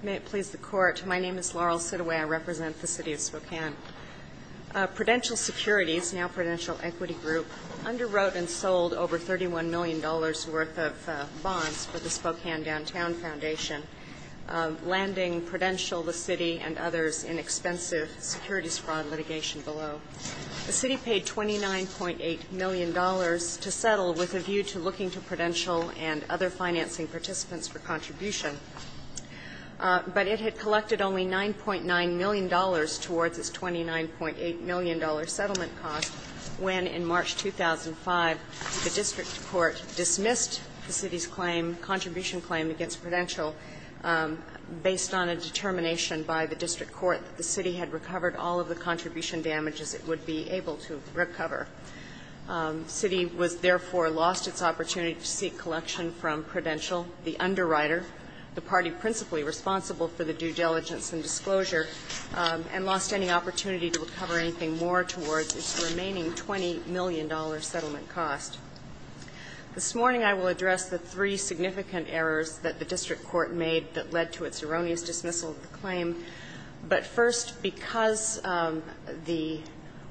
May it please the Court, my name is Laurel Sidoway, I represent the City of Spokane. Prudential Securities, now Prudential Equity Group, underwrote and sold over $31 million worth of bonds for the Spokane Downtown Foundation, landing Prudential, the City, and others in expensive securities fraud litigation below. The City paid $29.8 million to settle with a view to looking to Prudential and other financing participants for contribution. But it had collected only $9.9 million towards its $29.8 million settlement cost when, in March 2005, the District Court dismissed the City's claim, contribution claim against Prudential, based on a determination by the District Court that the City had recovered all of the contribution damages it would be able to recover. The City was, therefore, lost its opportunity to seek collection from Prudential, the underwriter, the party principally responsible for the due diligence and disclosure, and lost any opportunity to recover anything more towards its remaining $20 million settlement cost. This morning I will address the three significant errors that the District Court made But first, because the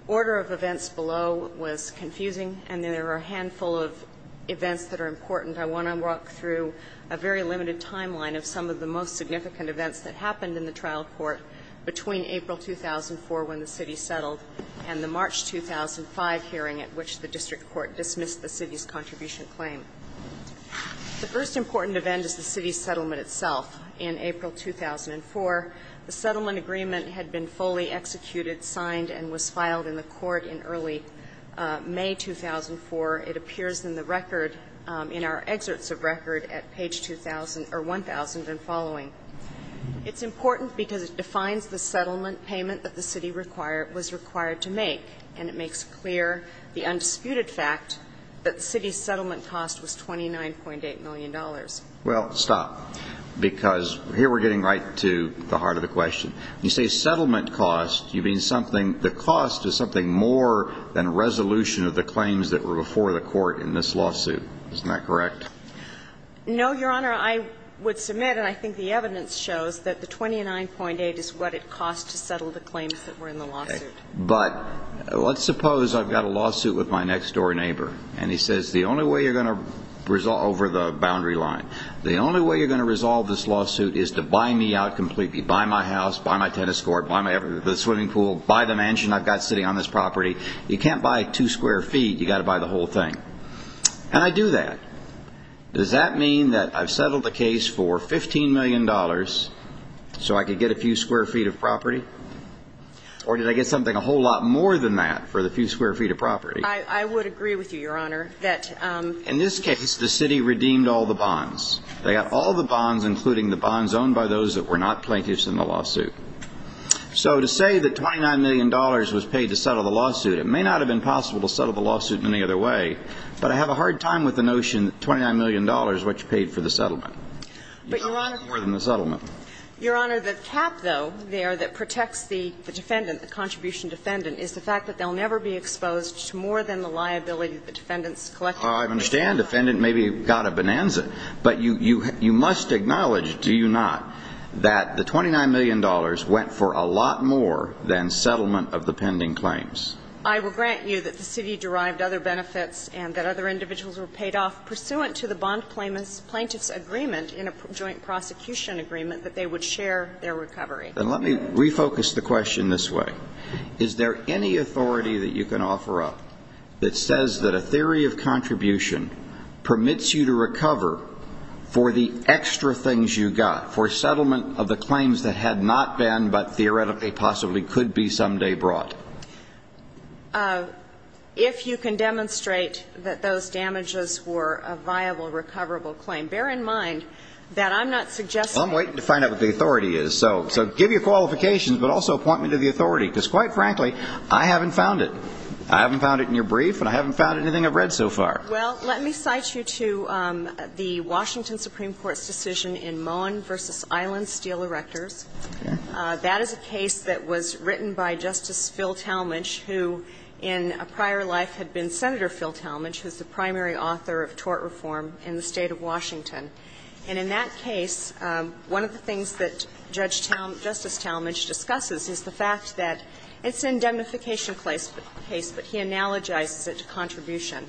order of events below was confusing and there are a handful of events that are important, I want to walk through a very limited timeline of some of the most significant events that happened in the trial court between April 2004, when the City settled, and the March 2005 hearing at which the District Court dismissed the City's contribution claim. The first important event is the City's settlement itself. In April 2004, the settlement agreement had been fully executed, signed, and was filed in the court in early May 2004. It appears in the record, in our excerpts of record, at page 2,000 or 1,000 and following. It's important because it defines the settlement payment that the City required to make, and it makes clear the undisputed fact that the City's settlement cost was $29.8 million. Well, stop, because here we're getting right to the heart of the question. When you say settlement cost, you mean something, the cost is something more than a resolution of the claims that were before the court in this lawsuit. Isn't that correct? No, Your Honor. I would submit, and I think the evidence shows, that the $29.8 is what it cost to settle the claims that were in the lawsuit. But let's suppose I've got a lawsuit with my next-door neighbor, and he says, the only way you're going to resolve, over the boundary line, the only way you're going to resolve this lawsuit is to buy me out completely. Buy my house, buy my tennis court, buy the swimming pool, buy the mansion I've got sitting on this property. You can't buy two square feet, you've got to buy the whole thing. And I do that. Does that mean that I've settled the case for $15 million so I could get a few square feet of property? Or did I get something a whole lot more than that for the few square feet of property? I would agree with you, Your Honor, that ---- In this case, the city redeemed all the bonds. They got all the bonds, including the bonds owned by those that were not plaintiffs in the lawsuit. So to say that $29 million was paid to settle the lawsuit, it may not have been possible to settle the lawsuit any other way, but I have a hard time with the notion that $29 million is what you paid for the settlement. But, Your Honor ---- More than the settlement. Your Honor, the cap, though, there that protects the defendant, the contribution defendant, is the fact that they'll never be exposed to more than the liability of the defendant's collective ---- I understand defendant maybe got a bonanza, but you must acknowledge, do you not, that the $29 million went for a lot more than settlement of the pending claims? I will grant you that the city derived other benefits and that other individuals were paid off pursuant to the bond plaintiff's agreement in a joint prosecution agreement that they would share their recovery. And let me refocus the question this way. Is there any authority that you can offer up that says that a theory of contribution permits you to recover for the extra things you got, for settlement of the claims that had not been but theoretically possibly could be someday brought? If you can demonstrate that those damages were a viable, recoverable claim. Bear in mind that I'm not suggesting ---- I'm waiting to find out what the authority is. So give your qualifications, but also point me to the authority, because quite frankly, I haven't found it. I haven't found it in your brief, and I haven't found anything I've read so far. Well, let me cite you to the Washington Supreme Court's decision in Moen v. Island Steel Erectors. That is a case that was written by Justice Phil Talmadge, who in a prior life had been Senator Phil Talmadge, who is the primary author of tort reform in the State of Washington. And in that case, one of the things that Judge Talmadge ---- Justice Talmadge discusses is the fact that it's an indemnification case, but he analogizes it to contribution.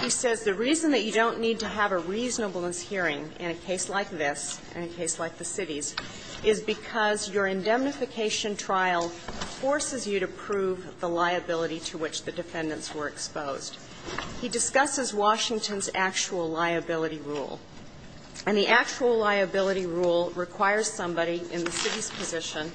He says the reason that you don't need to have a reasonableness hearing in a case like this, in a case like the cities, is because your indemnification trial forces you to prove the liability to which the defendants were exposed. He discusses Washington's actual liability rule. And the actual liability rule requires somebody in the city's position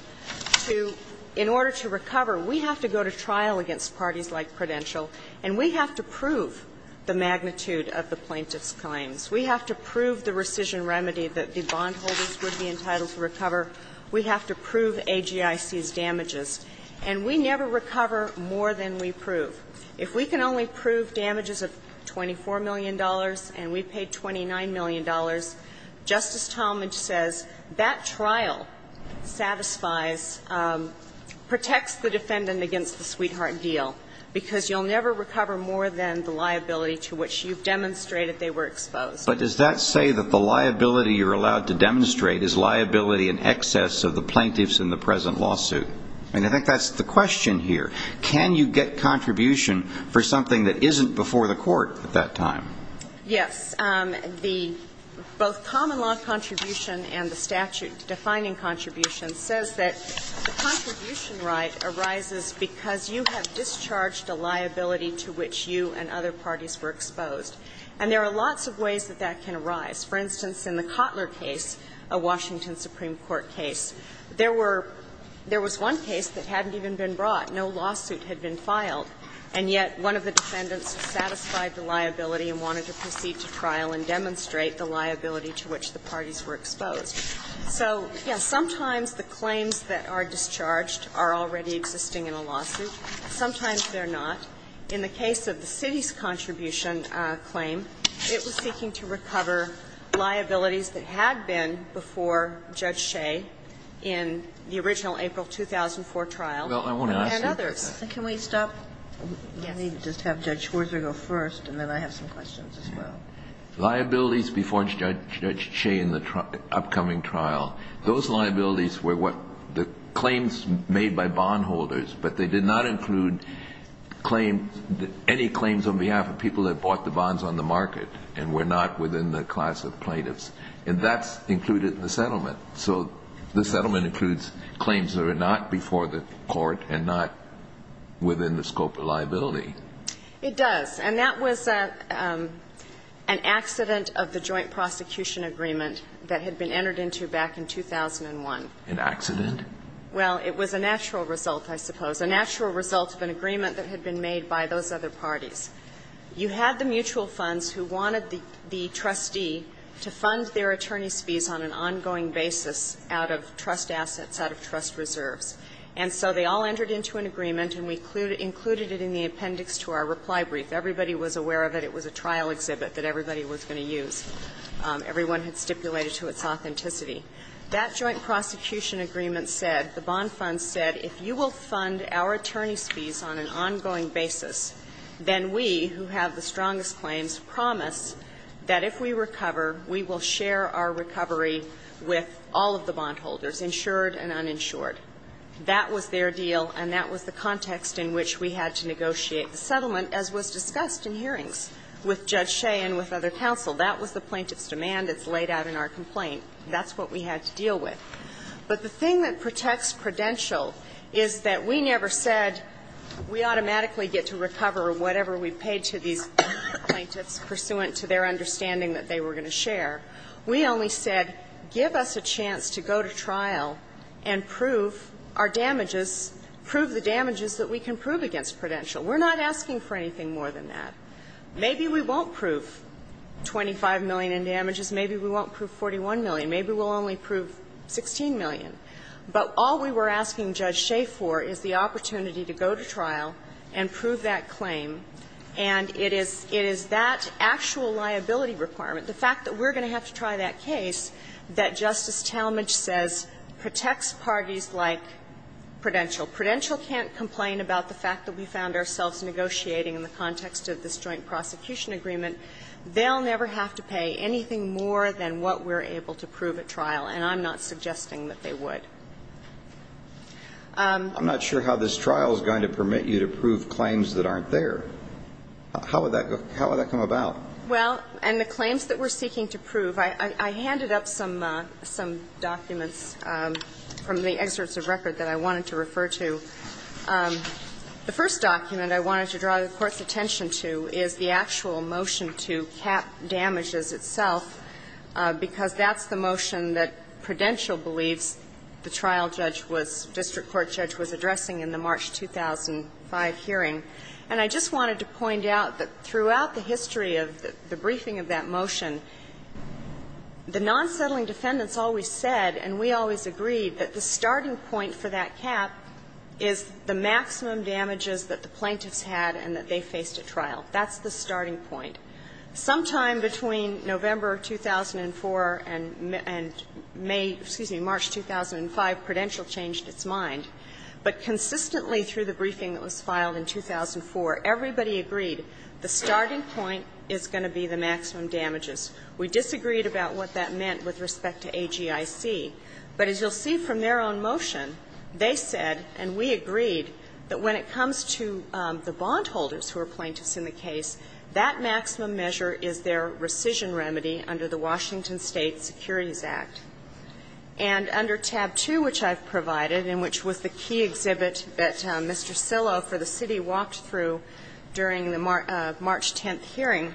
to, in order to recover, we have to go to trial against parties like Prudential, and we have to prove the magnitude of the plaintiff's claims. We have to prove the rescission remedy that the bondholders would be entitled to recover. We have to prove AGIC's damages. And we never recover more than we prove. If we can only prove damages of $24 million and we paid $29 million, Justice Talmadge says that trial satisfies, protects the defendant against the sweetheart deal, because you'll never recover more than the liability to which you've demonstrated they were exposed. But does that say that the liability you're allowed to demonstrate is liability in excess of the plaintiffs in the present lawsuit? I mean, I think that's the question here. Can you get contribution for something that isn't before the court at that time? Yes. The both common law contribution and the statute-defining contribution says that the contribution right arises because you have discharged a liability to which you and other parties were exposed. And there are lots of ways that that can arise. For instance, in the Cotler case, a Washington Supreme Court case, there were one case that hadn't even been brought. No lawsuit had been filed. And yet one of the defendants satisfied the liability and wanted to proceed to trial and demonstrate the liability to which the parties were exposed. So, yes, sometimes the claims that are discharged are already existing in a lawsuit. Sometimes they're not. In the case of the Citi's contribution claim, it was seeking to recover liabilities that had been before Judge Shea in the original April 2004 trial and others. Well, I want to ask you. Can we stop? Yes. Let me just have Judge Schwarzer go first, and then I have some questions as well. Liabilities before Judge Shea in the upcoming trial, those liabilities were what the claims made by bondholders, but they did not include any claims on behalf of people that bought the bonds on the market and were not within the class of plaintiffs. And that's included in the settlement. So the settlement includes claims that are not before the court and not within the scope of liability. It does. And that was an accident of the joint prosecution agreement that had been entered into back in 2001. An accident? Well, it was a natural result, I suppose, a natural result of an agreement that had been made by those other parties. You had the mutual funds who wanted the trustee to fund their attorneys' fees on an ongoing basis out of trust assets, out of trust reserves. And so they all entered into an agreement, and we included it in the appendix to our reply brief. Everybody was aware of it. It was a trial exhibit that everybody was going to use. Everyone had stipulated to its authenticity. That joint prosecution agreement said, the bond funds said, if you will fund our attorneys' fees on an ongoing basis, then we, who have the strongest claims, promise that if we recover, we will share our recovery with all of the bondholders, insured and uninsured. That was their deal, and that was the context in which we had to negotiate the settlement, as was discussed in hearings with Judge Shea and with other counsel. That was the plaintiff's demand. It's laid out in our complaint. That's what we had to deal with. But the thing that protects Prudential is that we never said we automatically get to recover whatever we paid to these plaintiffs pursuant to their understanding that they were going to share. We only said, give us a chance to go to trial and prove our damages, prove the damages that we can prove against Prudential. We're not asking for anything more than that. Maybe we won't prove 25 million in damages. Maybe we won't prove 41 million. Maybe we'll only prove 16 million. But all we were asking Judge Shea for is the opportunity to go to trial and prove that claim, and it is that actual liability requirement, the fact that we're going to have to try that case that Justice Talmadge says protects parties like Prudential. Prudential can't complain about the fact that we found ourselves negotiating in the context of this joint prosecution agreement. They'll never have to pay anything more than what we're able to prove at trial, and I'm not suggesting that they would. I'm not sure how this trial is going to permit you to prove claims that aren't there. How would that go? How would that come about? Well, and the claims that we're seeking to prove, I handed up some documents from the excerpts of record that I wanted to refer to. The first document I wanted to draw the Court's attention to is the actual motion to cap damages itself, because that's the motion that Prudential believes the trial judge was, district court judge was addressing in the March 2005 hearing. And I just wanted to point out that throughout the history of the briefing of that motion, the non-settling defendants always said, and we always agreed, that the starting point for that cap is the maximum damages that the plaintiffs had and that they faced at trial. That's the starting point. Sometime between November 2004 and May, excuse me, March 2005, Prudential changed its mind, but consistently through the briefing that was filed in 2004, everybody agreed the starting point is going to be the maximum damages. We disagreed about what that meant with respect to AGIC. But as you'll see from their own motion, they said, and we agreed, that when it comes to the bondholders who are plaintiffs in the case, that maximum measure is their rescission remedy under the Washington State Securities Act. And under tab 2, which I've provided, and which was the key exhibit that Mr. Sillow for the city walked through during the March 10th hearing,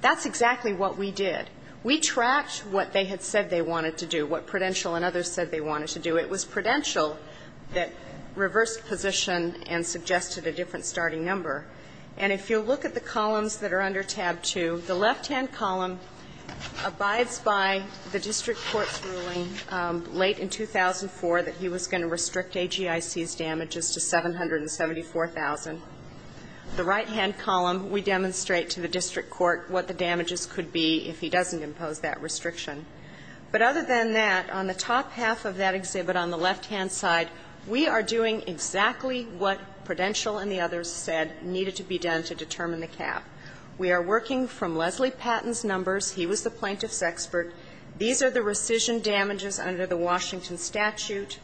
that's exactly what we did. We tracked what they had said they wanted to do, what Prudential and others said they wanted to do. It was Prudential that reversed position and suggested a different starting number. And if you'll look at the columns that are under tab 2, the left-hand column abides by the district court's ruling late in 2004 that he was going to restrict AGIC's damages to 774,000. The right-hand column, we demonstrate to the district court what the damages could be if he doesn't impose that restriction. But other than that, on the top half of that exhibit on the left-hand side, we are doing exactly what Prudential and the others said needed to be done to determine the cap. We are working from Leslie Patton's numbers. He was the plaintiff's expert. These are the rescission damages under the Washington statute.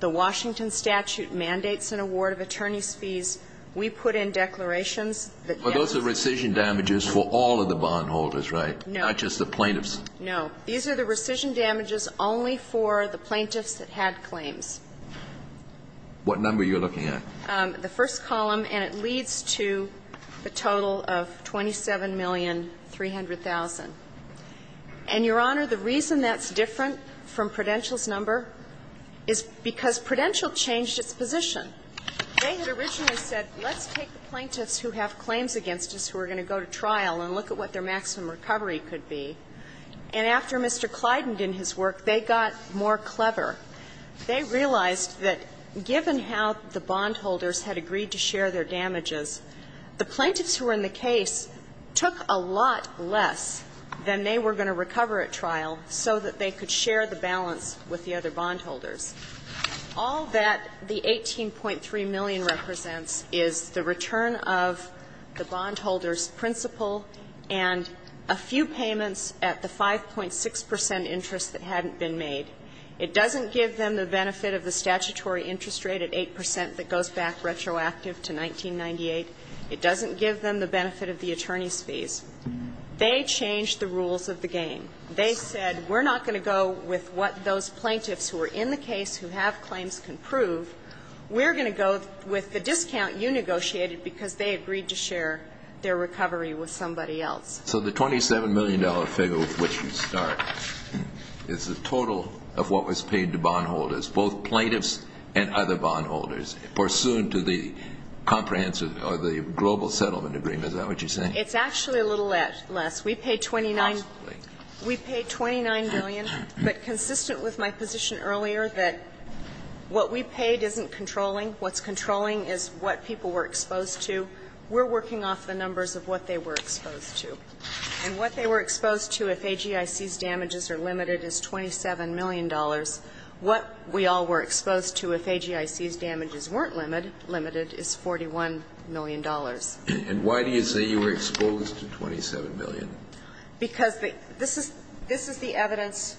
The Washington statute mandates an award of attorney's fees. We put in declarations that that's the case. So it's the plaintiffs that are going to be the perpetrators, right, not just the plaintiffs? No. These are the rescission damages only for the plaintiffs that had claims. What number are you looking at? The first column, and it leads to a total of 27,300,000. And, Your Honor, the reason that's different from Prudential's number is because Prudential changed its position. They had originally said, let's take the plaintiffs who have claims against us who are going to go to trial and look at what their maximum recovery could be. And after Mr. Clyden did his work, they got more clever. They realized that given how the bondholders had agreed to share their damages, the plaintiffs who were in the case took a lot less than they were going to recover at trial so that they could share the balance with the other bondholders. All that the 18.3 million represents is the return of the bondholders' principal and a few payments at the 5.6 percent interest that hadn't been made. It doesn't give them the benefit of the statutory interest rate at 8 percent that goes back retroactive to 1998. It doesn't give them the benefit of the attorney's fees. They changed the rules of the game. They said we're not going to go with what those plaintiffs who are in the case who have claims can prove. We're going to go with the discount you negotiated because they agreed to share their recovery with somebody else. So the $27 million figure with which you start is the total of what was paid to bondholders, both plaintiffs and other bondholders, pursuant to the comprehensive or the global settlement agreement. Is that what you're saying? It's actually a little less. We paid 29 million, but consistent with my position earlier that what we paid isn't controlling. What's controlling is what people were exposed to. We're working off the numbers of what they were exposed to. And what they were exposed to if AGIC's damages are limited is $27 million. What we all were exposed to if AGIC's damages weren't limited is $41 million. And why do you say you were exposed to $27 million? Because this is the evidence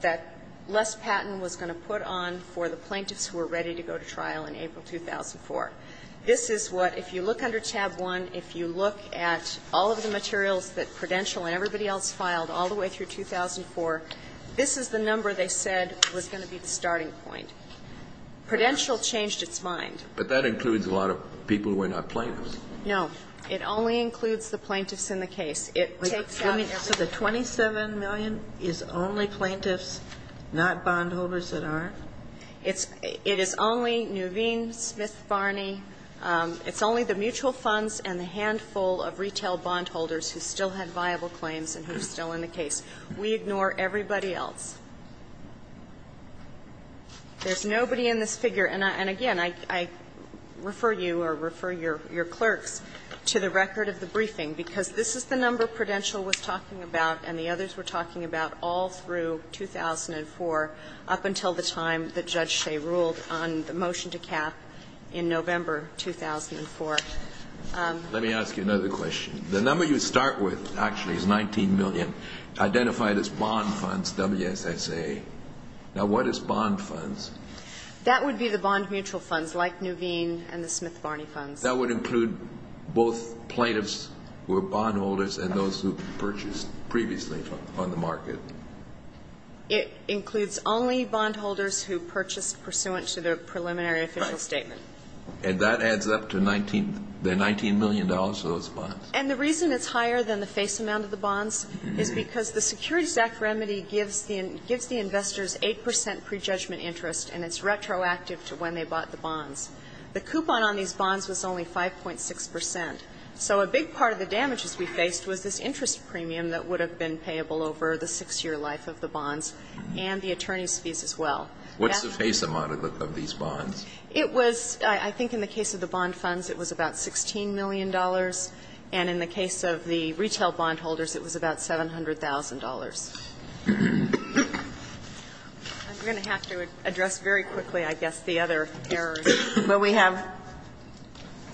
that Les Patton was going to put on for the plaintiffs who were ready to go to trial in April 2004. This is what, if you look under tab 1, if you look at all of the materials that Prudential and everybody else filed all the way through 2004, this is the number they said was going to be the starting point. Prudential changed its mind. But that includes a lot of people who are not plaintiffs. No. It only includes the plaintiffs in the case. So the $27 million is only plaintiffs, not bondholders that aren't? It is only Nuveen, Smith, Barney. It's only the mutual funds and the handful of retail bondholders who still had viable claims and who are still in the case. We ignore everybody else. There's nobody in this figure. And, again, I refer you or refer your clerks to the record of the briefing, because this is the number Prudential was talking about and the others were talking about all through 2004 up until the time that Judge Shea ruled on the motion to cap in November 2004. Let me ask you another question. The number you start with, actually, is $19 million, identified as bond funds, WSSA. Now, what is bond funds? That would be the bond mutual funds like Nuveen and the Smith-Barney funds. That would include both plaintiffs who are bondholders and those who purchased previously on the market. It includes only bondholders who purchased pursuant to their preliminary official statement. Right. And that adds up to $19 million for those bonds. And the reason it's higher than the face amount of the bonds is because the Security And it's retroactive to when they bought the bonds. The coupon on these bonds was only 5.6 percent. So a big part of the damages we faced was this interest premium that would have been payable over the six-year life of the bonds and the attorney's fees as well. What's the face amount of these bonds? It was, I think in the case of the bond funds, it was about $16 million. And in the case of the retail bondholders, it was about $700,000. I'm going to have to address very quickly, I guess, the other errors. Well, we have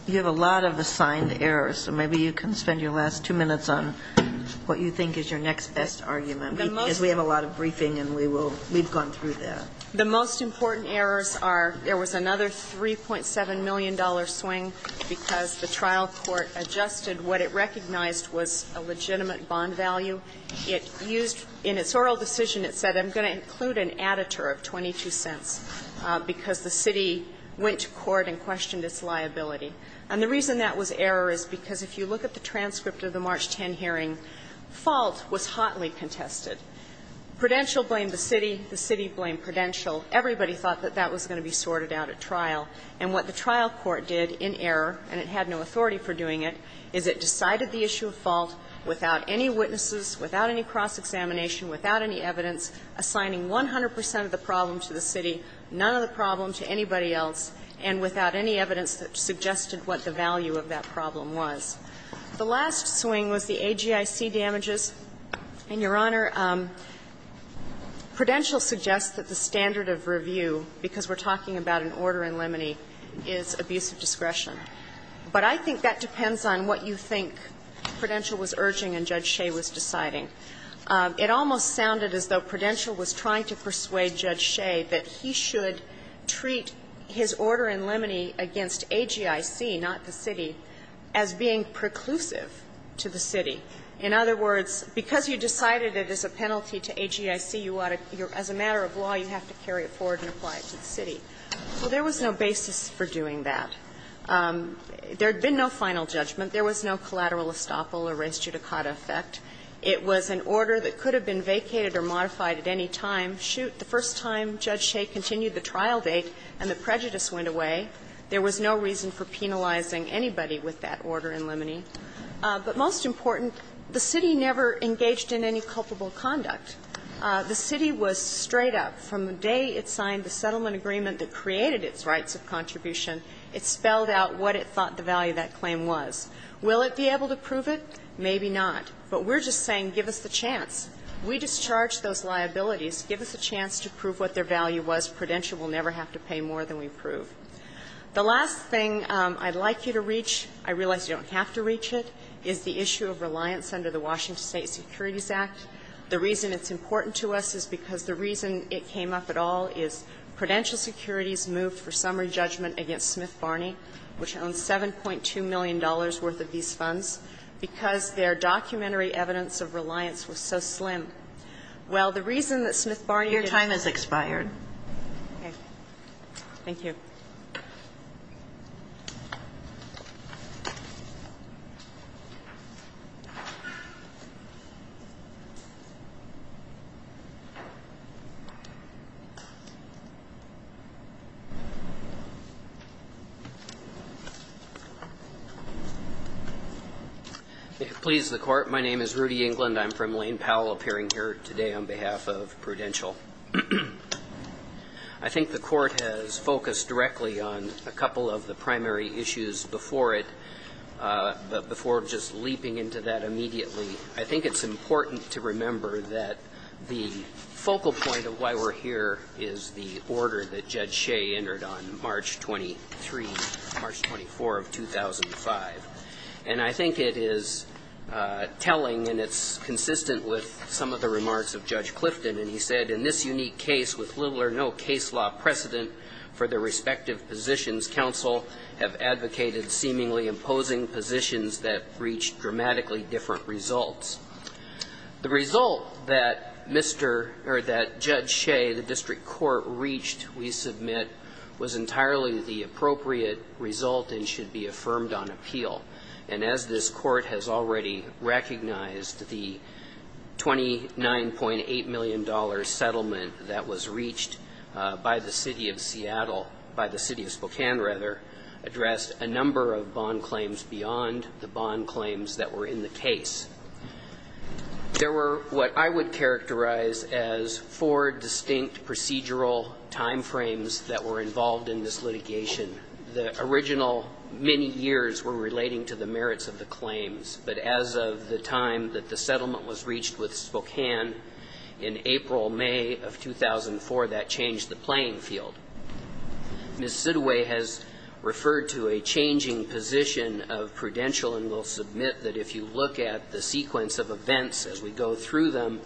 you have a lot of assigned errors. So maybe you can spend your last two minutes on what you think is your next best argument, because we have a lot of briefing and we will we've gone through that. The most important errors are there was another $3.7 million swing because the trial court adjusted what it recognized was a legitimate bond value. It used in its oral decision, it said, I'm going to include an additive of 22 cents because the city went to court and questioned its liability. And the reason that was error is because if you look at the transcript of the March 10 hearing, fault was hotly contested. Prudential blamed the city. The city blamed Prudential. Everybody thought that that was going to be sorted out at trial. And what the trial court did in error, and it had no authority for doing it, is it cross-examination, without any evidence, assigning 100 percent of the problem to the city, none of the problem to anybody else, and without any evidence that suggested what the value of that problem was. The last swing was the AGIC damages. And, Your Honor, Prudential suggests that the standard of review, because we're talking about an order in limine, is abuse of discretion. But I think that depends on what you think Prudential was urging and Judge Shea was deciding. It almost sounded as though Prudential was trying to persuade Judge Shea that he should treat his order in limine against AGIC, not the city, as being preclusive to the city. In other words, because you decided it is a penalty to AGIC, you ought to as a matter of law, you have to carry it forward and apply it to the city. Well, there was no basis for doing that. There had been no final judgment. There was no collateral estoppel or res judicata effect. It was an order that could have been vacated or modified at any time. Shoot, the first time Judge Shea continued the trial date and the prejudice went away, there was no reason for penalizing anybody with that order in limine. But most important, the city never engaged in any culpable conduct. The city was straight up. From the day it signed the settlement agreement that created its rights of contribution, it spelled out what it thought the value of that claim was. Will it be able to prove it? Maybe not. But we're just saying give us the chance. We discharged those liabilities. Give us a chance to prove what their value was. Prudential will never have to pay more than we prove. The last thing I'd like you to reach, I realize you don't have to reach it, is the issue of reliance under the Washington State Securities Act. The reason it's important to us is because the reason it came up at all is Prudential Securities moved for summary judgment against Smith-Barney, which owns $7.2 million worth of these funds, because their documentary evidence of reliance was so slim. Well, the reason that Smith-Barney didn't do that is because Smith-Barney did not do that. Okay. Thank you. If it pleases the Court, my name is Rudy England. I'm from Lane Powell, appearing here today on behalf of Prudential. I think the Court has focused directly on a couple of the primary issues before it before just leaping into that immediately. I think it's important to remember that the focal point of why we're here is the order that Judge Shea entered on March 23, March 24 of 2005. And I think it is telling and it's consistent with some of the remarks of Judge Shea that this unique case, with little or no case law precedent for the respective positions, counsel have advocated seemingly imposing positions that reached dramatically different results. The result that Mr. or that Judge Shea, the district court, reached, we submit, was entirely the appropriate result and should be affirmed on appeal. And as this Court has already recognized, the $29.8 million settlement that was reached by the City of Seattle, by the City of Spokane rather, addressed a number of bond claims beyond the bond claims that were in the case. There were what I would characterize as four distinct procedural time frames that were involved in this litigation. The original many years were relating to the merits of the claims, but as of the time that the settlement was reached with Spokane in April, May of 2004, that changed the playing field. Ms. Sidway has referred to a changing position of prudential and will submit that if you look at the sequence of events as we go through them,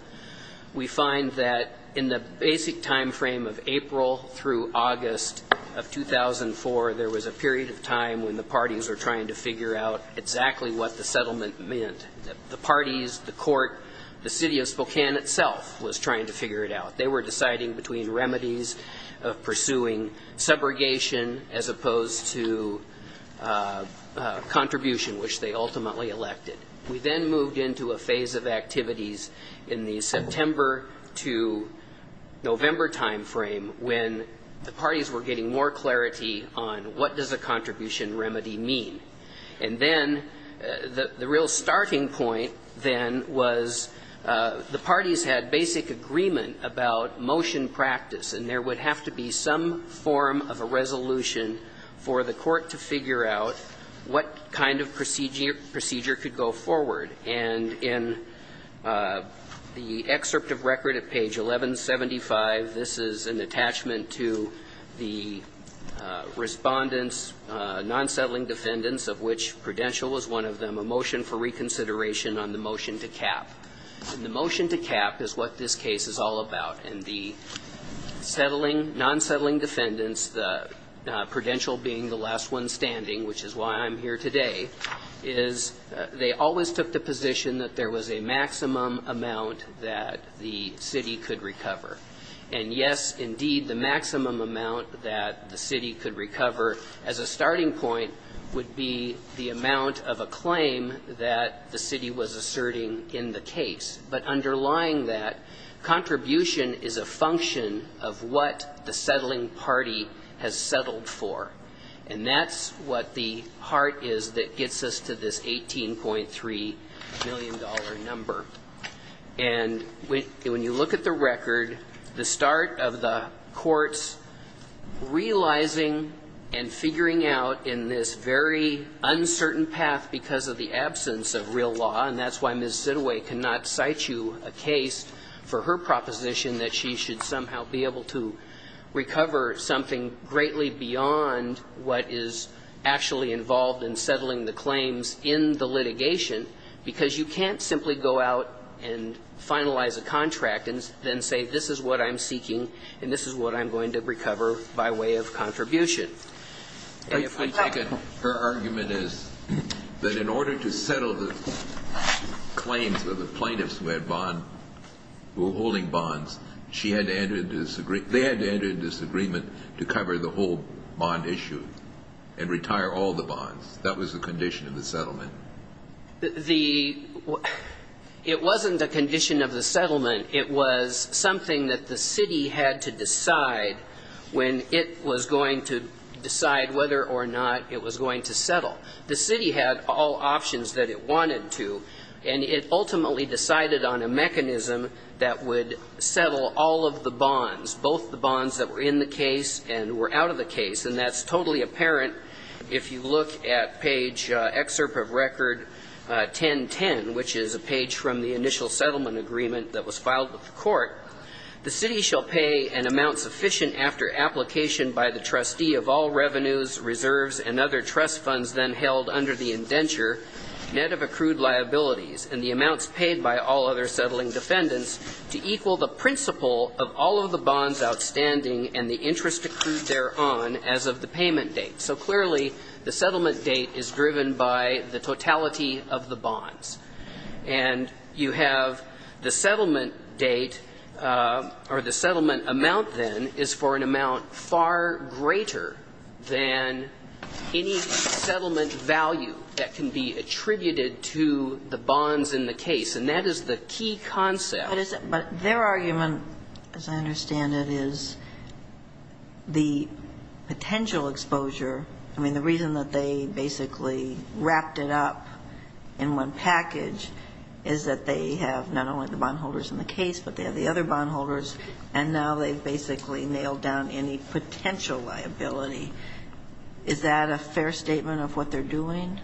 we find that in the basic time frame of April through August of 2004, there was a period of time when the parties were trying to figure out exactly what the settlement meant. The parties, the court, the City of Spokane itself was trying to figure it out. They were deciding between remedies of pursuing subrogation as opposed to contribution, which they ultimately elected. We then moved into a phase of activities in the September to November time frame when the parties were getting more clarity on what does a contribution remedy mean. And then the real starting point, then, was the parties had basic agreement about motion practice, and there would have to be some form of a resolution for the court to figure out what kind of procedure could go forward. And in the excerpt of record at page 1175, this is an attachment to the Respondents non-settling defendants of which prudential was one of them, a motion for reconsideration on the motion to cap. And the motion to cap is what this case is all about. And the non-settling defendants, the prudential being the last one standing, which is why I'm here today, is they always took the position that there was a maximum amount that the city could recover. And, yes, indeed, the maximum amount that the city could recover as a starting point would be the amount of a claim that the city was asserting in the case. But underlying that, contribution is a function of what the settling party has settled for. And that's what the heart is that gets us to this $18.3 million number. And when you look at the record, the start of the courts realizing and figuring out in this very uncertain path because of the absence of real law, and that's why Ms. Siddeway cannot cite you a case for her proposition that she should somehow be able to recover something greatly beyond what is actually involved in settling the claims in the litigation, because you can't simply go out and finalize a contract and then say this is what I'm seeking and this is what I'm going to recover by way of contribution. And if we take it, her argument is that in order to settle the claims of the plaintiffs who had bond, who were holding bonds, she had to enter a disagreement. They had to enter a disagreement to cover the whole bond issue and retire all the bonds. That was the condition of the settlement. It wasn't a condition of the settlement. It was something that the city had to decide when it was going to decide whether or not it was going to settle. The city had all options that it wanted to, and it ultimately decided on a mechanism that would settle all of the bonds, both the bonds that were in the case and were out of the case. And that's totally apparent if you look at page excerpt of record 1010, which is a page from the initial settlement agreement that was filed with the court. The city shall pay an amount sufficient after application by the trustee of all revenues, reserves, and other trust funds then held under the indenture, net of accrued liabilities, and the amounts paid by all other settling defendants to equal the principle of all of the bonds outstanding and the interest accrued thereon as of the payment So clearly, the settlement date is driven by the totality of the bonds. And you have the settlement date or the settlement amount then is for an amount far greater than any settlement value that can be attributed to the bonds in the case. And that is the key concept. But their argument, as I understand it, is the potential exposure. I mean, the reason that they basically wrapped it up in one package is that they have not only the bondholders in the case, but they have the other bondholders. And now they've basically nailed down any potential liability. Is that a fair statement of what they're doing?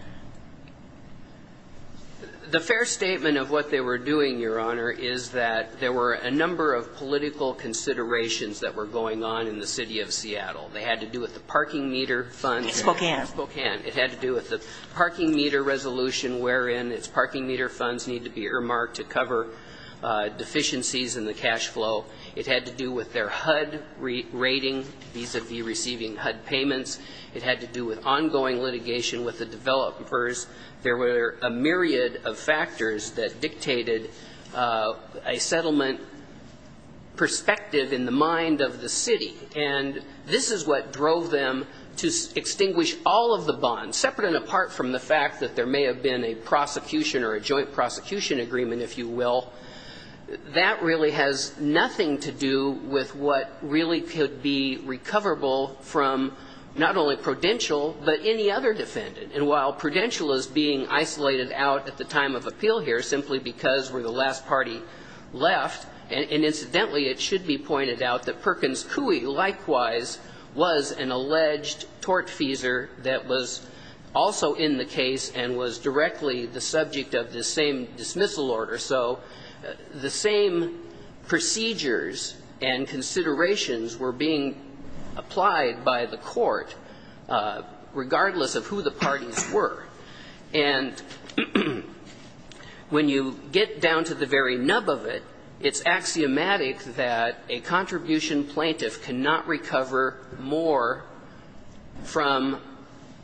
The fair statement of what they were doing, Your Honor, is that there were a number of political considerations that were going on in the City of Seattle. They had to do with the parking meter funds. Spokane. Spokane. It had to do with the parking meter resolution wherein its parking meter funds need to be earmarked to cover deficiencies in the cash flow. It had to do with their HUD rating vis-à-vis receiving HUD payments. It had to do with ongoing litigation with the developers. There were a myriad of factors that dictated a settlement perspective in the mind of the city. And this is what drove them to extinguish all of the bonds, separate and apart from the fact that there may have been a prosecution or a joint prosecution agreement, if you will. That really has nothing to do with what really could be recoverable from not only Prudential, but any other defendant. And while Prudential is being isolated out at the time of appeal here simply because we're the last party left, and incidentally it should be pointed out that Perkins Coie likewise was an alleged tortfeasor that was also in the case and was directly the subject of this same dismissal order. So the same procedures and considerations were being applied by the court, regardless of who the parties were. And when you get down to the very nub of it, it's axiomatic that a contribution plaintiff cannot recover more from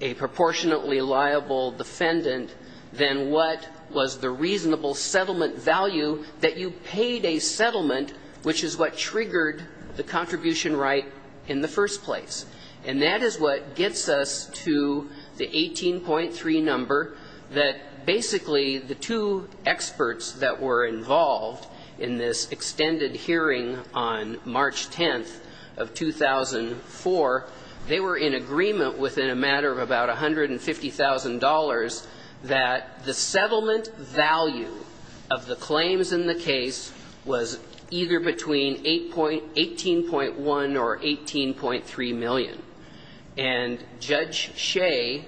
a proportionately liable defendant than what was the reasonable settlement value that you paid a settlement, which is what triggered the contribution right in the first place. And that is what gets us to the 18.3 number that basically the two experts that were involved in this extended hearing on March 10th of 2004, they were in agreement within a matter of about $150,000 that the settlement value of the claims in the case was either between 18.1 or 18.3 million. And Judge Shea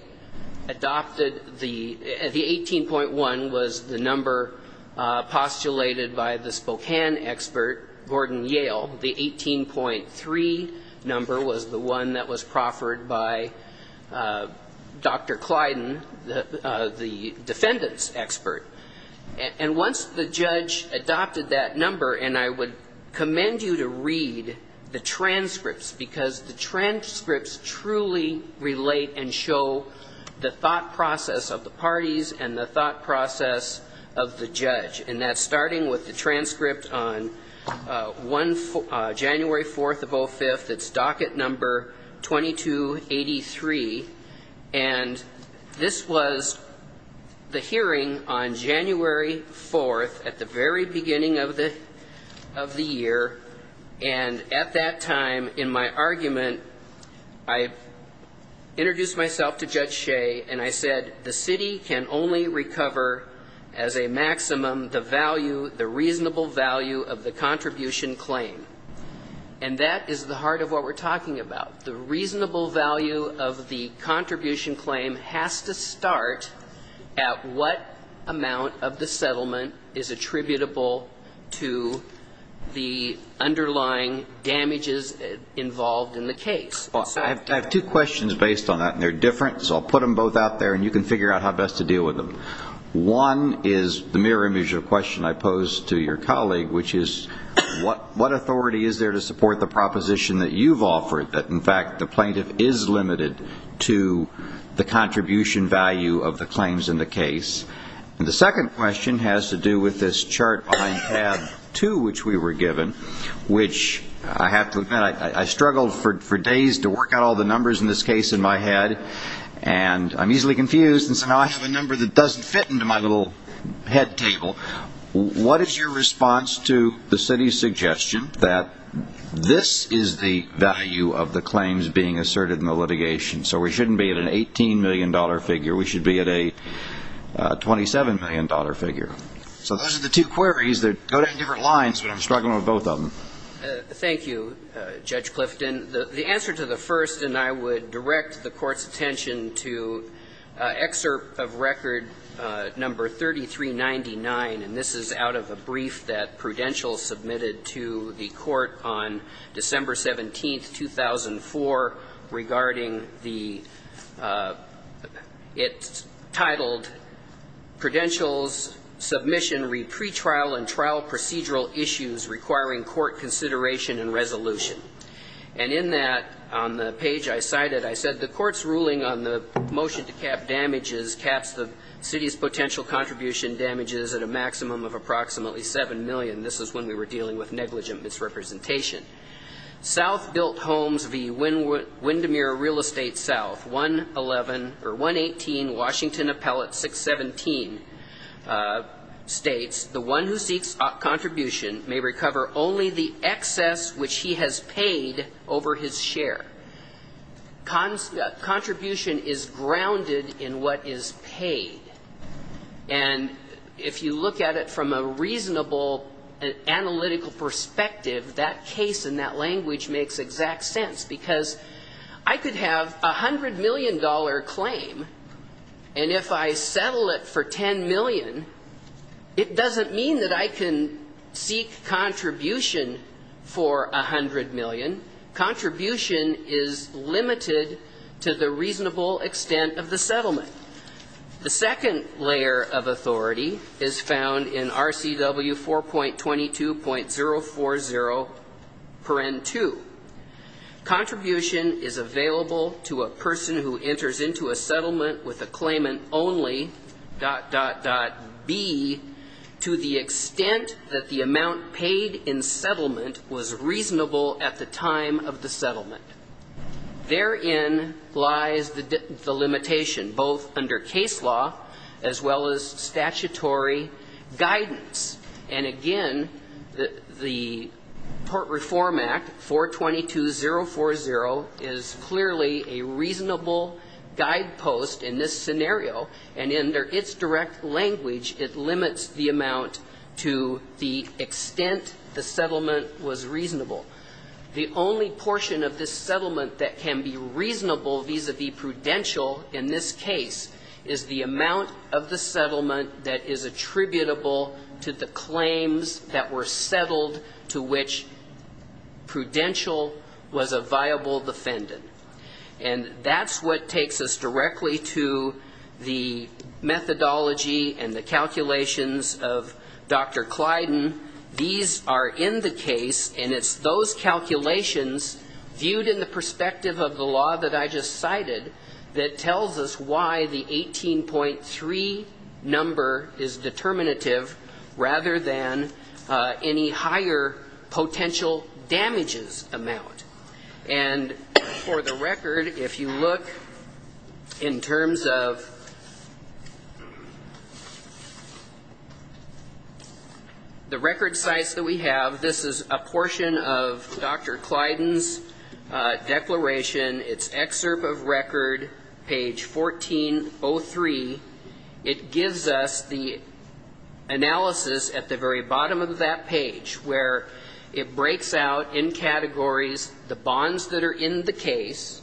adopted the 18.1 was the number postulated by the Spokane expert, Gordon Yale. The 18.3 number was the one that was proffered by Dr. Clyden, the defendant's expert. And once the judge adopted that number, and I would commend you to read the transcripts, because the transcripts truly relate and show the thought process of the parties and the thought process of the judge. And that's starting with the transcript on January 4th of 05th, it's docket number 2283. And this was the hearing on January 4th at the very beginning of the year. And at that time in my argument, I introduced myself to Judge Shea and I said, the city can only recover as a maximum the value, the reasonable value of the contribution claim. And that is the heart of what we're talking about. The reasonable value of the contribution claim has to start at what amount of the settlement is attributable to the underlying damages involved in the case. I have two questions based on that, and they're different, so I'll put them both out there and you can figure out how best to deal with them. One is the mirror image of a question I posed to your colleague, which is, what authority is there to support the proposition that you've offered, that in fact the plaintiff is limited to the contribution value of the claims in the case? And the second question has to do with this chart behind tab two, which we were given, which I have to admit, I struggled for days to get it right. I had to work out all the numbers in this case in my head, and I'm easily confused, and so now I have a number that doesn't fit into my little head table. What is your response to the city's suggestion that this is the value of the claims being asserted in the litigation? So we shouldn't be at an $18 million figure. We should be at a $27 million figure. So those are the two queries that go down different lines, but I'm struggling with both of them. Thank you, Judge Clifton. The answer to the first, and I would direct the Court's attention to excerpt of record number 3399, and this is out of a brief that Prudential submitted to the Court on December 17th, 2004, regarding the – it's titled Prudential's submission read, Pre-trial and Trial Procedural Issues Requiring Court Consideration and Resolution. And in that, on the page I cited, I said, The Court's ruling on the motion to cap damages caps the city's potential contribution damages at a maximum of approximately $7 million. This is when we were dealing with negligent misrepresentation. South built homes v. Windermere Real Estate, South, 111 – or 118 Washington Appellate, 617, states, The one who seeks contribution may recover only the excess which he has paid over his share. Contribution is grounded in what is paid. And if you look at it from a reasonable analytical perspective, that case in that language makes exact sense, because I could have a $100 million claim, and if I set up a $7 million claim, I could settle it for $10 million. It doesn't mean that I can seek contribution for $100 million. Contribution is limited to the reasonable extent of the settlement. The second layer of authority is found in RCW 4.22.040.2. Contribution is available to a settlement with a claimant only, dot, dot, dot, B, to the extent that the amount paid in settlement was reasonable at the time of the settlement. Therein lies the limitation, both under case law, as well as statutory guidance. And again, the Port Reform Act, 4.22.040, is clearly a reasonable guidepost for a settlement with a claimant only, dot, dot, dot, B. The only portion of this settlement that can be reasonable vis-à-vis prudential in this case is the amount of the settlement that is attributable to the claims that were settled to which prudential was a viable defendant. And that's what takes us directly to the methodology and the calculations of Dr. Clyden. These are in the case, and it's those calculations viewed in the perspective of the law that I just cited that tells us why the 18.3 number is determinative rather than any higher potential damages amount. And for the record, if you look in terms of the record sites that we have, this is a portion of Dr. Clyden's declaration. It's excerpt of record, page 1403. It gives us the analysis at the very bottom of that page where it breaks out in categories the bonds that are in the case,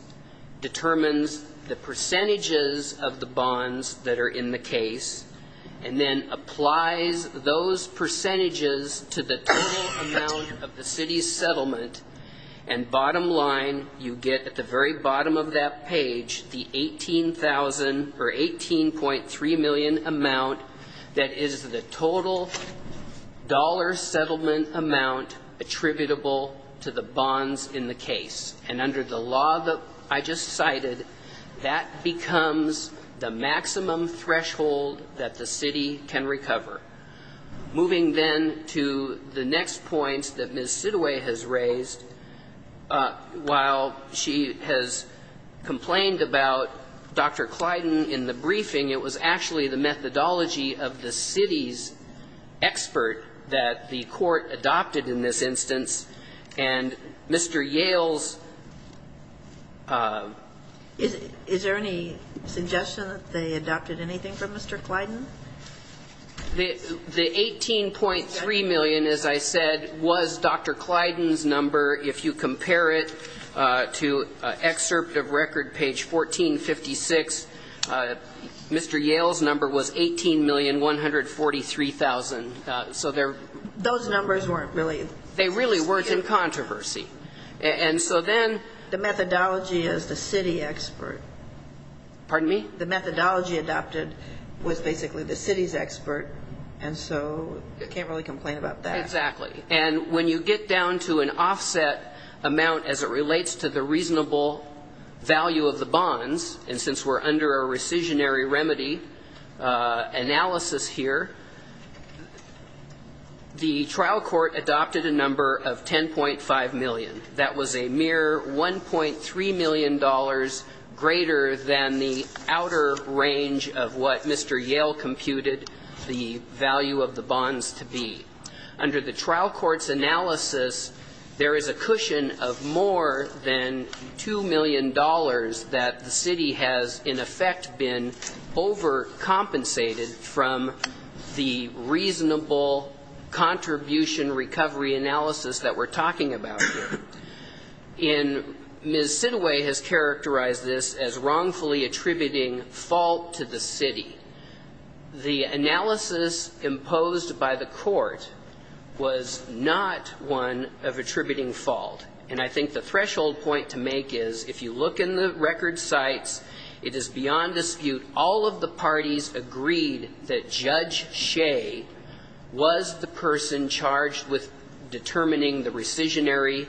determines the percentages of the bonds that are in the case, and then applies those percentages to the total amount of the city's settlement. And bottom line, you get at the very bottom of that page the 18,000, or 18.3 million amount that is the total dollar settlement amount attributable to the bonds in the case. And under the law that I just cited, that becomes the maximum threshold that the city can recover. Moving then to the next points that Ms. Siddeway has raised, while she has complained about Dr. Clyden in the briefing, it was actually the methodology of the city's expert that the court adopted in this instance, and Mr. Yale's methodology of the city's settlement. And Mr. Yale's... Is there any suggestion that they adopted anything from Mr. Clyden? The 18.3 million, as I said, was Dr. Clyden's number. If you compare it to excerpt of record, page 1456, Mr. Yale's number was 18,143,000. So they're... Those numbers weren't really... They really weren't in controversy. And so then... The methodology is the city expert. The methodology adopted was basically the city's expert, and so I can't really complain about that. Exactly. And when you get down to an offset amount as it relates to the reasonable value of the bonds, and since we're under a rescissionary remedy analysis here, the trial court adopted a number of 10.5 million. That was a mere $1.3 million greater than the outer range of what Mr. Yale computed the value of the bonds to be. Under the trial court's analysis, there is a cushion of more than $2 million that the city has in effect been overcompensated from the reasonable contribution recovery analysis that we're talking about here. And Ms. Sidway has characterized this as wrongfully attributing fault to the city. The analysis imposed by the court was not one of attributing fault. And I think the threshold point to make is, if you look in the record sites, it is beyond dispute, all of the parties agreed that Judge Shea was the person charged with determining the rescissionary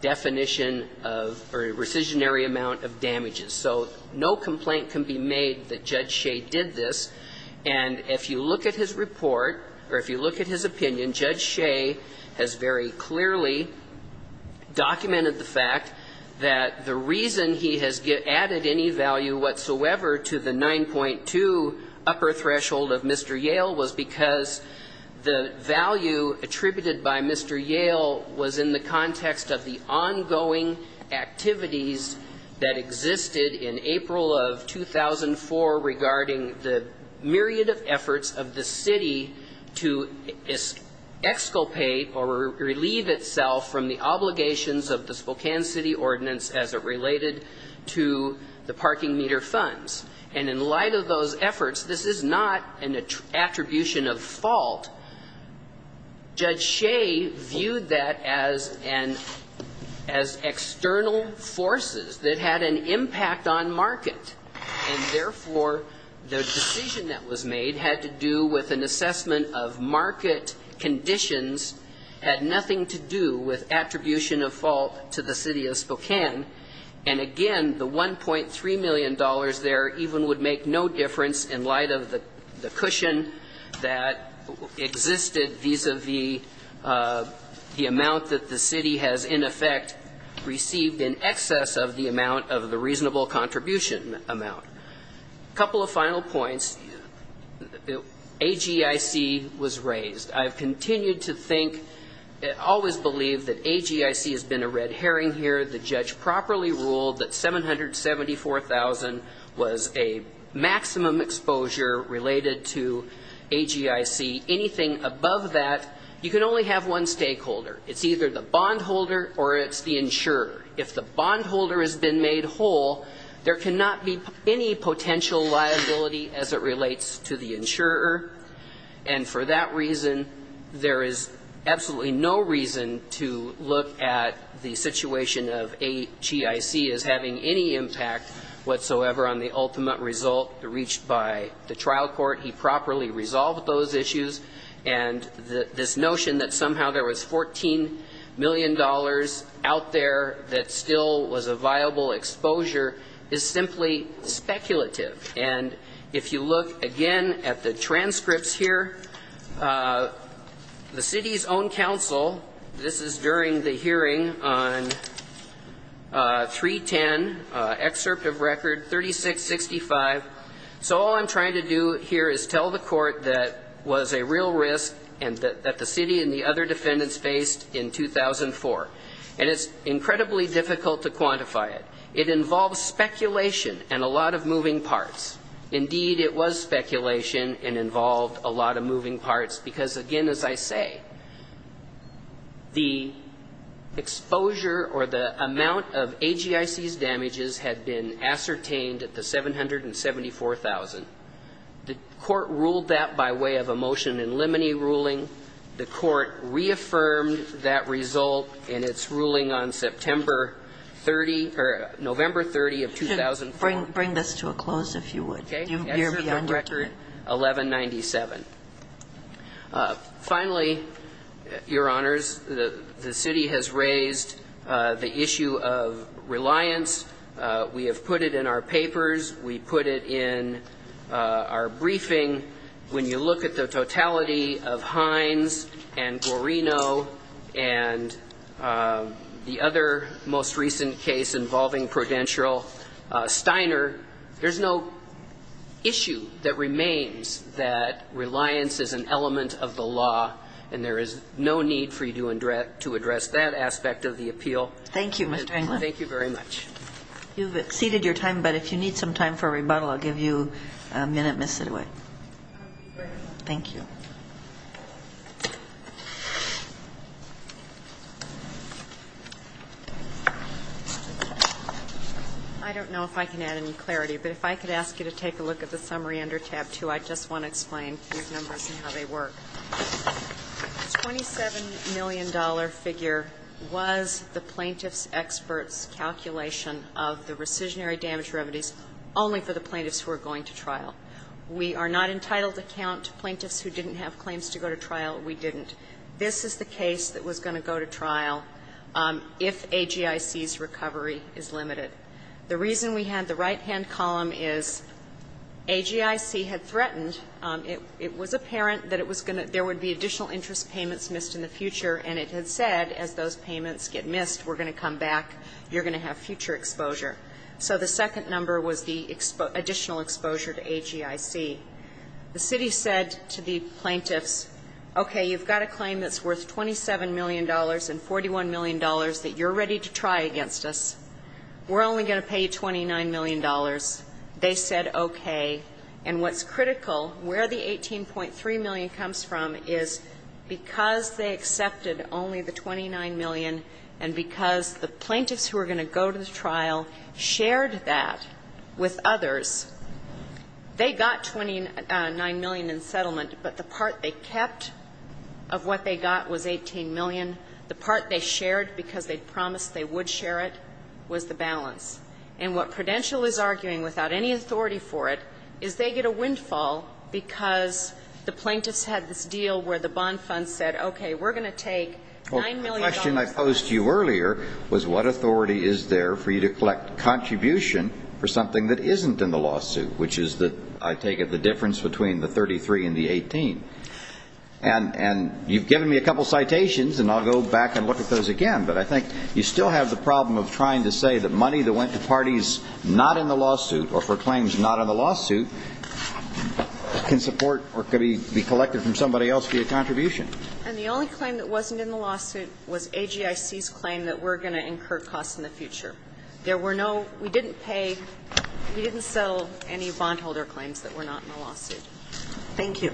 definition of... Or rescissionary amount of damages. So no complaint can be made that Judge Shea was the person charged with determining the rescissionary definition of damages. And I think it's important to note that Judge Shea did this, and if you look at his report, or if you look at his opinion, Judge Shea has very clearly documented the fact that the reason he has added any value whatsoever to the 9.2 upper threshold of Mr. Yale was because the value attributed by Mr. Yale was in the context of the parking meter funds, regarding the myriad of efforts of the city to exculpate or relieve itself from the obligations of the Spokane City Ordinance as it related to the parking meter funds. And in light of those efforts, this is not an attribution of fault. Judge Shea viewed that as an... As external forces that had an impact on market. And therefore, Judge Shea was the person charged with determining the value of the parking meter funds. The decision that was made had to do with an assessment of market conditions, had nothing to do with attribution of fault to the city of Spokane. And again, the $1.3 million there even would make no difference in light of the cushion that existed vis-à-vis the amount that the city has in effect received in excess of the amount of the reasonable contribution of $1.3 million. In light of those final points, AGIC was raised. I've continued to think, always believed that AGIC has been a red herring here. The judge properly ruled that $774,000 was a maximum exposure related to AGIC. Anything above that, you can only have one stakeholder. It's either the bondholder or it's the insurer. If the bondholder has been made whole, there cannot be any potential liability as it relates to the insurer. And for that reason, there is absolutely no reason to look at the situation of AGIC as having any impact whatsoever on the ultimate result reached by the trial court. He properly resolved those issues. And this notion that somehow there was $14 million out there that still was a viable exposure is simply speculative. And it's not a matter of how you look at it. If you look, again, at the transcripts here, the city's own counsel, this is during the hearing on 310, excerpt of record 3665. So all I'm trying to do here is tell the court that was a real risk and that the city and the other defendants faced in 2004. And it's incredibly difficult to quantify it. It involves speculation and a lot of moving parts. Indeed, it was speculation and involved a lot of moving parts, because, again, as I say, the exposure or the amount of AGIC's damages had been ascertained at the $774,000. The court ruled that by way of a motion in limine ruling. The court reaffirmed that result in its ruling on September 30 or November 30 of 2004. And I'm going to bring this to a close, if you would. You're beyond a minute. Okay. Excerpt from record 1197. Finally, Your Honors, the city has raised the issue of reliance. We have put it in our papers. We put it in our briefing. When you look at the totality of Hines and Guarino and the other most recent case involving Prudential, Steiner, there's no issue that remains that reliance is an element of the law, and there is no need for you to address that aspect of the appeal. Thank you, Mr. Englund. Thank you very much. I don't know if I can add any clarity, but if I could ask you to take a look at the summary under tab two, I just want to explain these numbers and how they work. The $27 million figure was the plaintiff's expert's calculation of the rescissionary damage remedies only for the plaintiffs who were going to trial. We are not entitled to count plaintiffs who didn't have claims to go to trial. We didn't. This is the case that was going to go to trial if AGIC's recovery had not occurred. The reason we had the right-hand column is AGIC had threatened, it was apparent that it was going to, there would be additional interest payments missed in the future, and it had said, as those payments get missed, we're going to come back, you're going to have future exposure. So the second number was the additional exposure to AGIC. The city said to the plaintiffs, okay, you've got a claim that's worth $27 million and $41 million that you're ready to try against us. We're only going to pay you $29 million. They said okay. And what's critical, where the $18.3 million comes from is because they accepted only the $29 million and because the plaintiffs who were going to go to trial shared that with others, they got $29 million in settlement, but the part they kept of what they got was $18 million. The part they shared because they promised they would share it was the balance. And what Prudential is arguing, without any authority for it, is they get a windfall because the plaintiffs had this deal where the bond fund said, okay, we're going to take $9 million. The question I posed to you earlier was what authority is there for you to collect contribution for something that isn't in the lawsuit, which is that I take it the difference between the 33 and the 18. And you've given me a couple citations, and I'll go back and look at those again, but I think you still have the problem of trying to say that money that went to parties not in the lawsuit or for claims not in the lawsuit can support or can be collected from somebody else via contribution. And the only claim that wasn't in the lawsuit was AGIC's claim that we're going to incur costs in the future. There were no, we didn't pay, we didn't sell any bondholder claims that were not in the lawsuit. Thank you.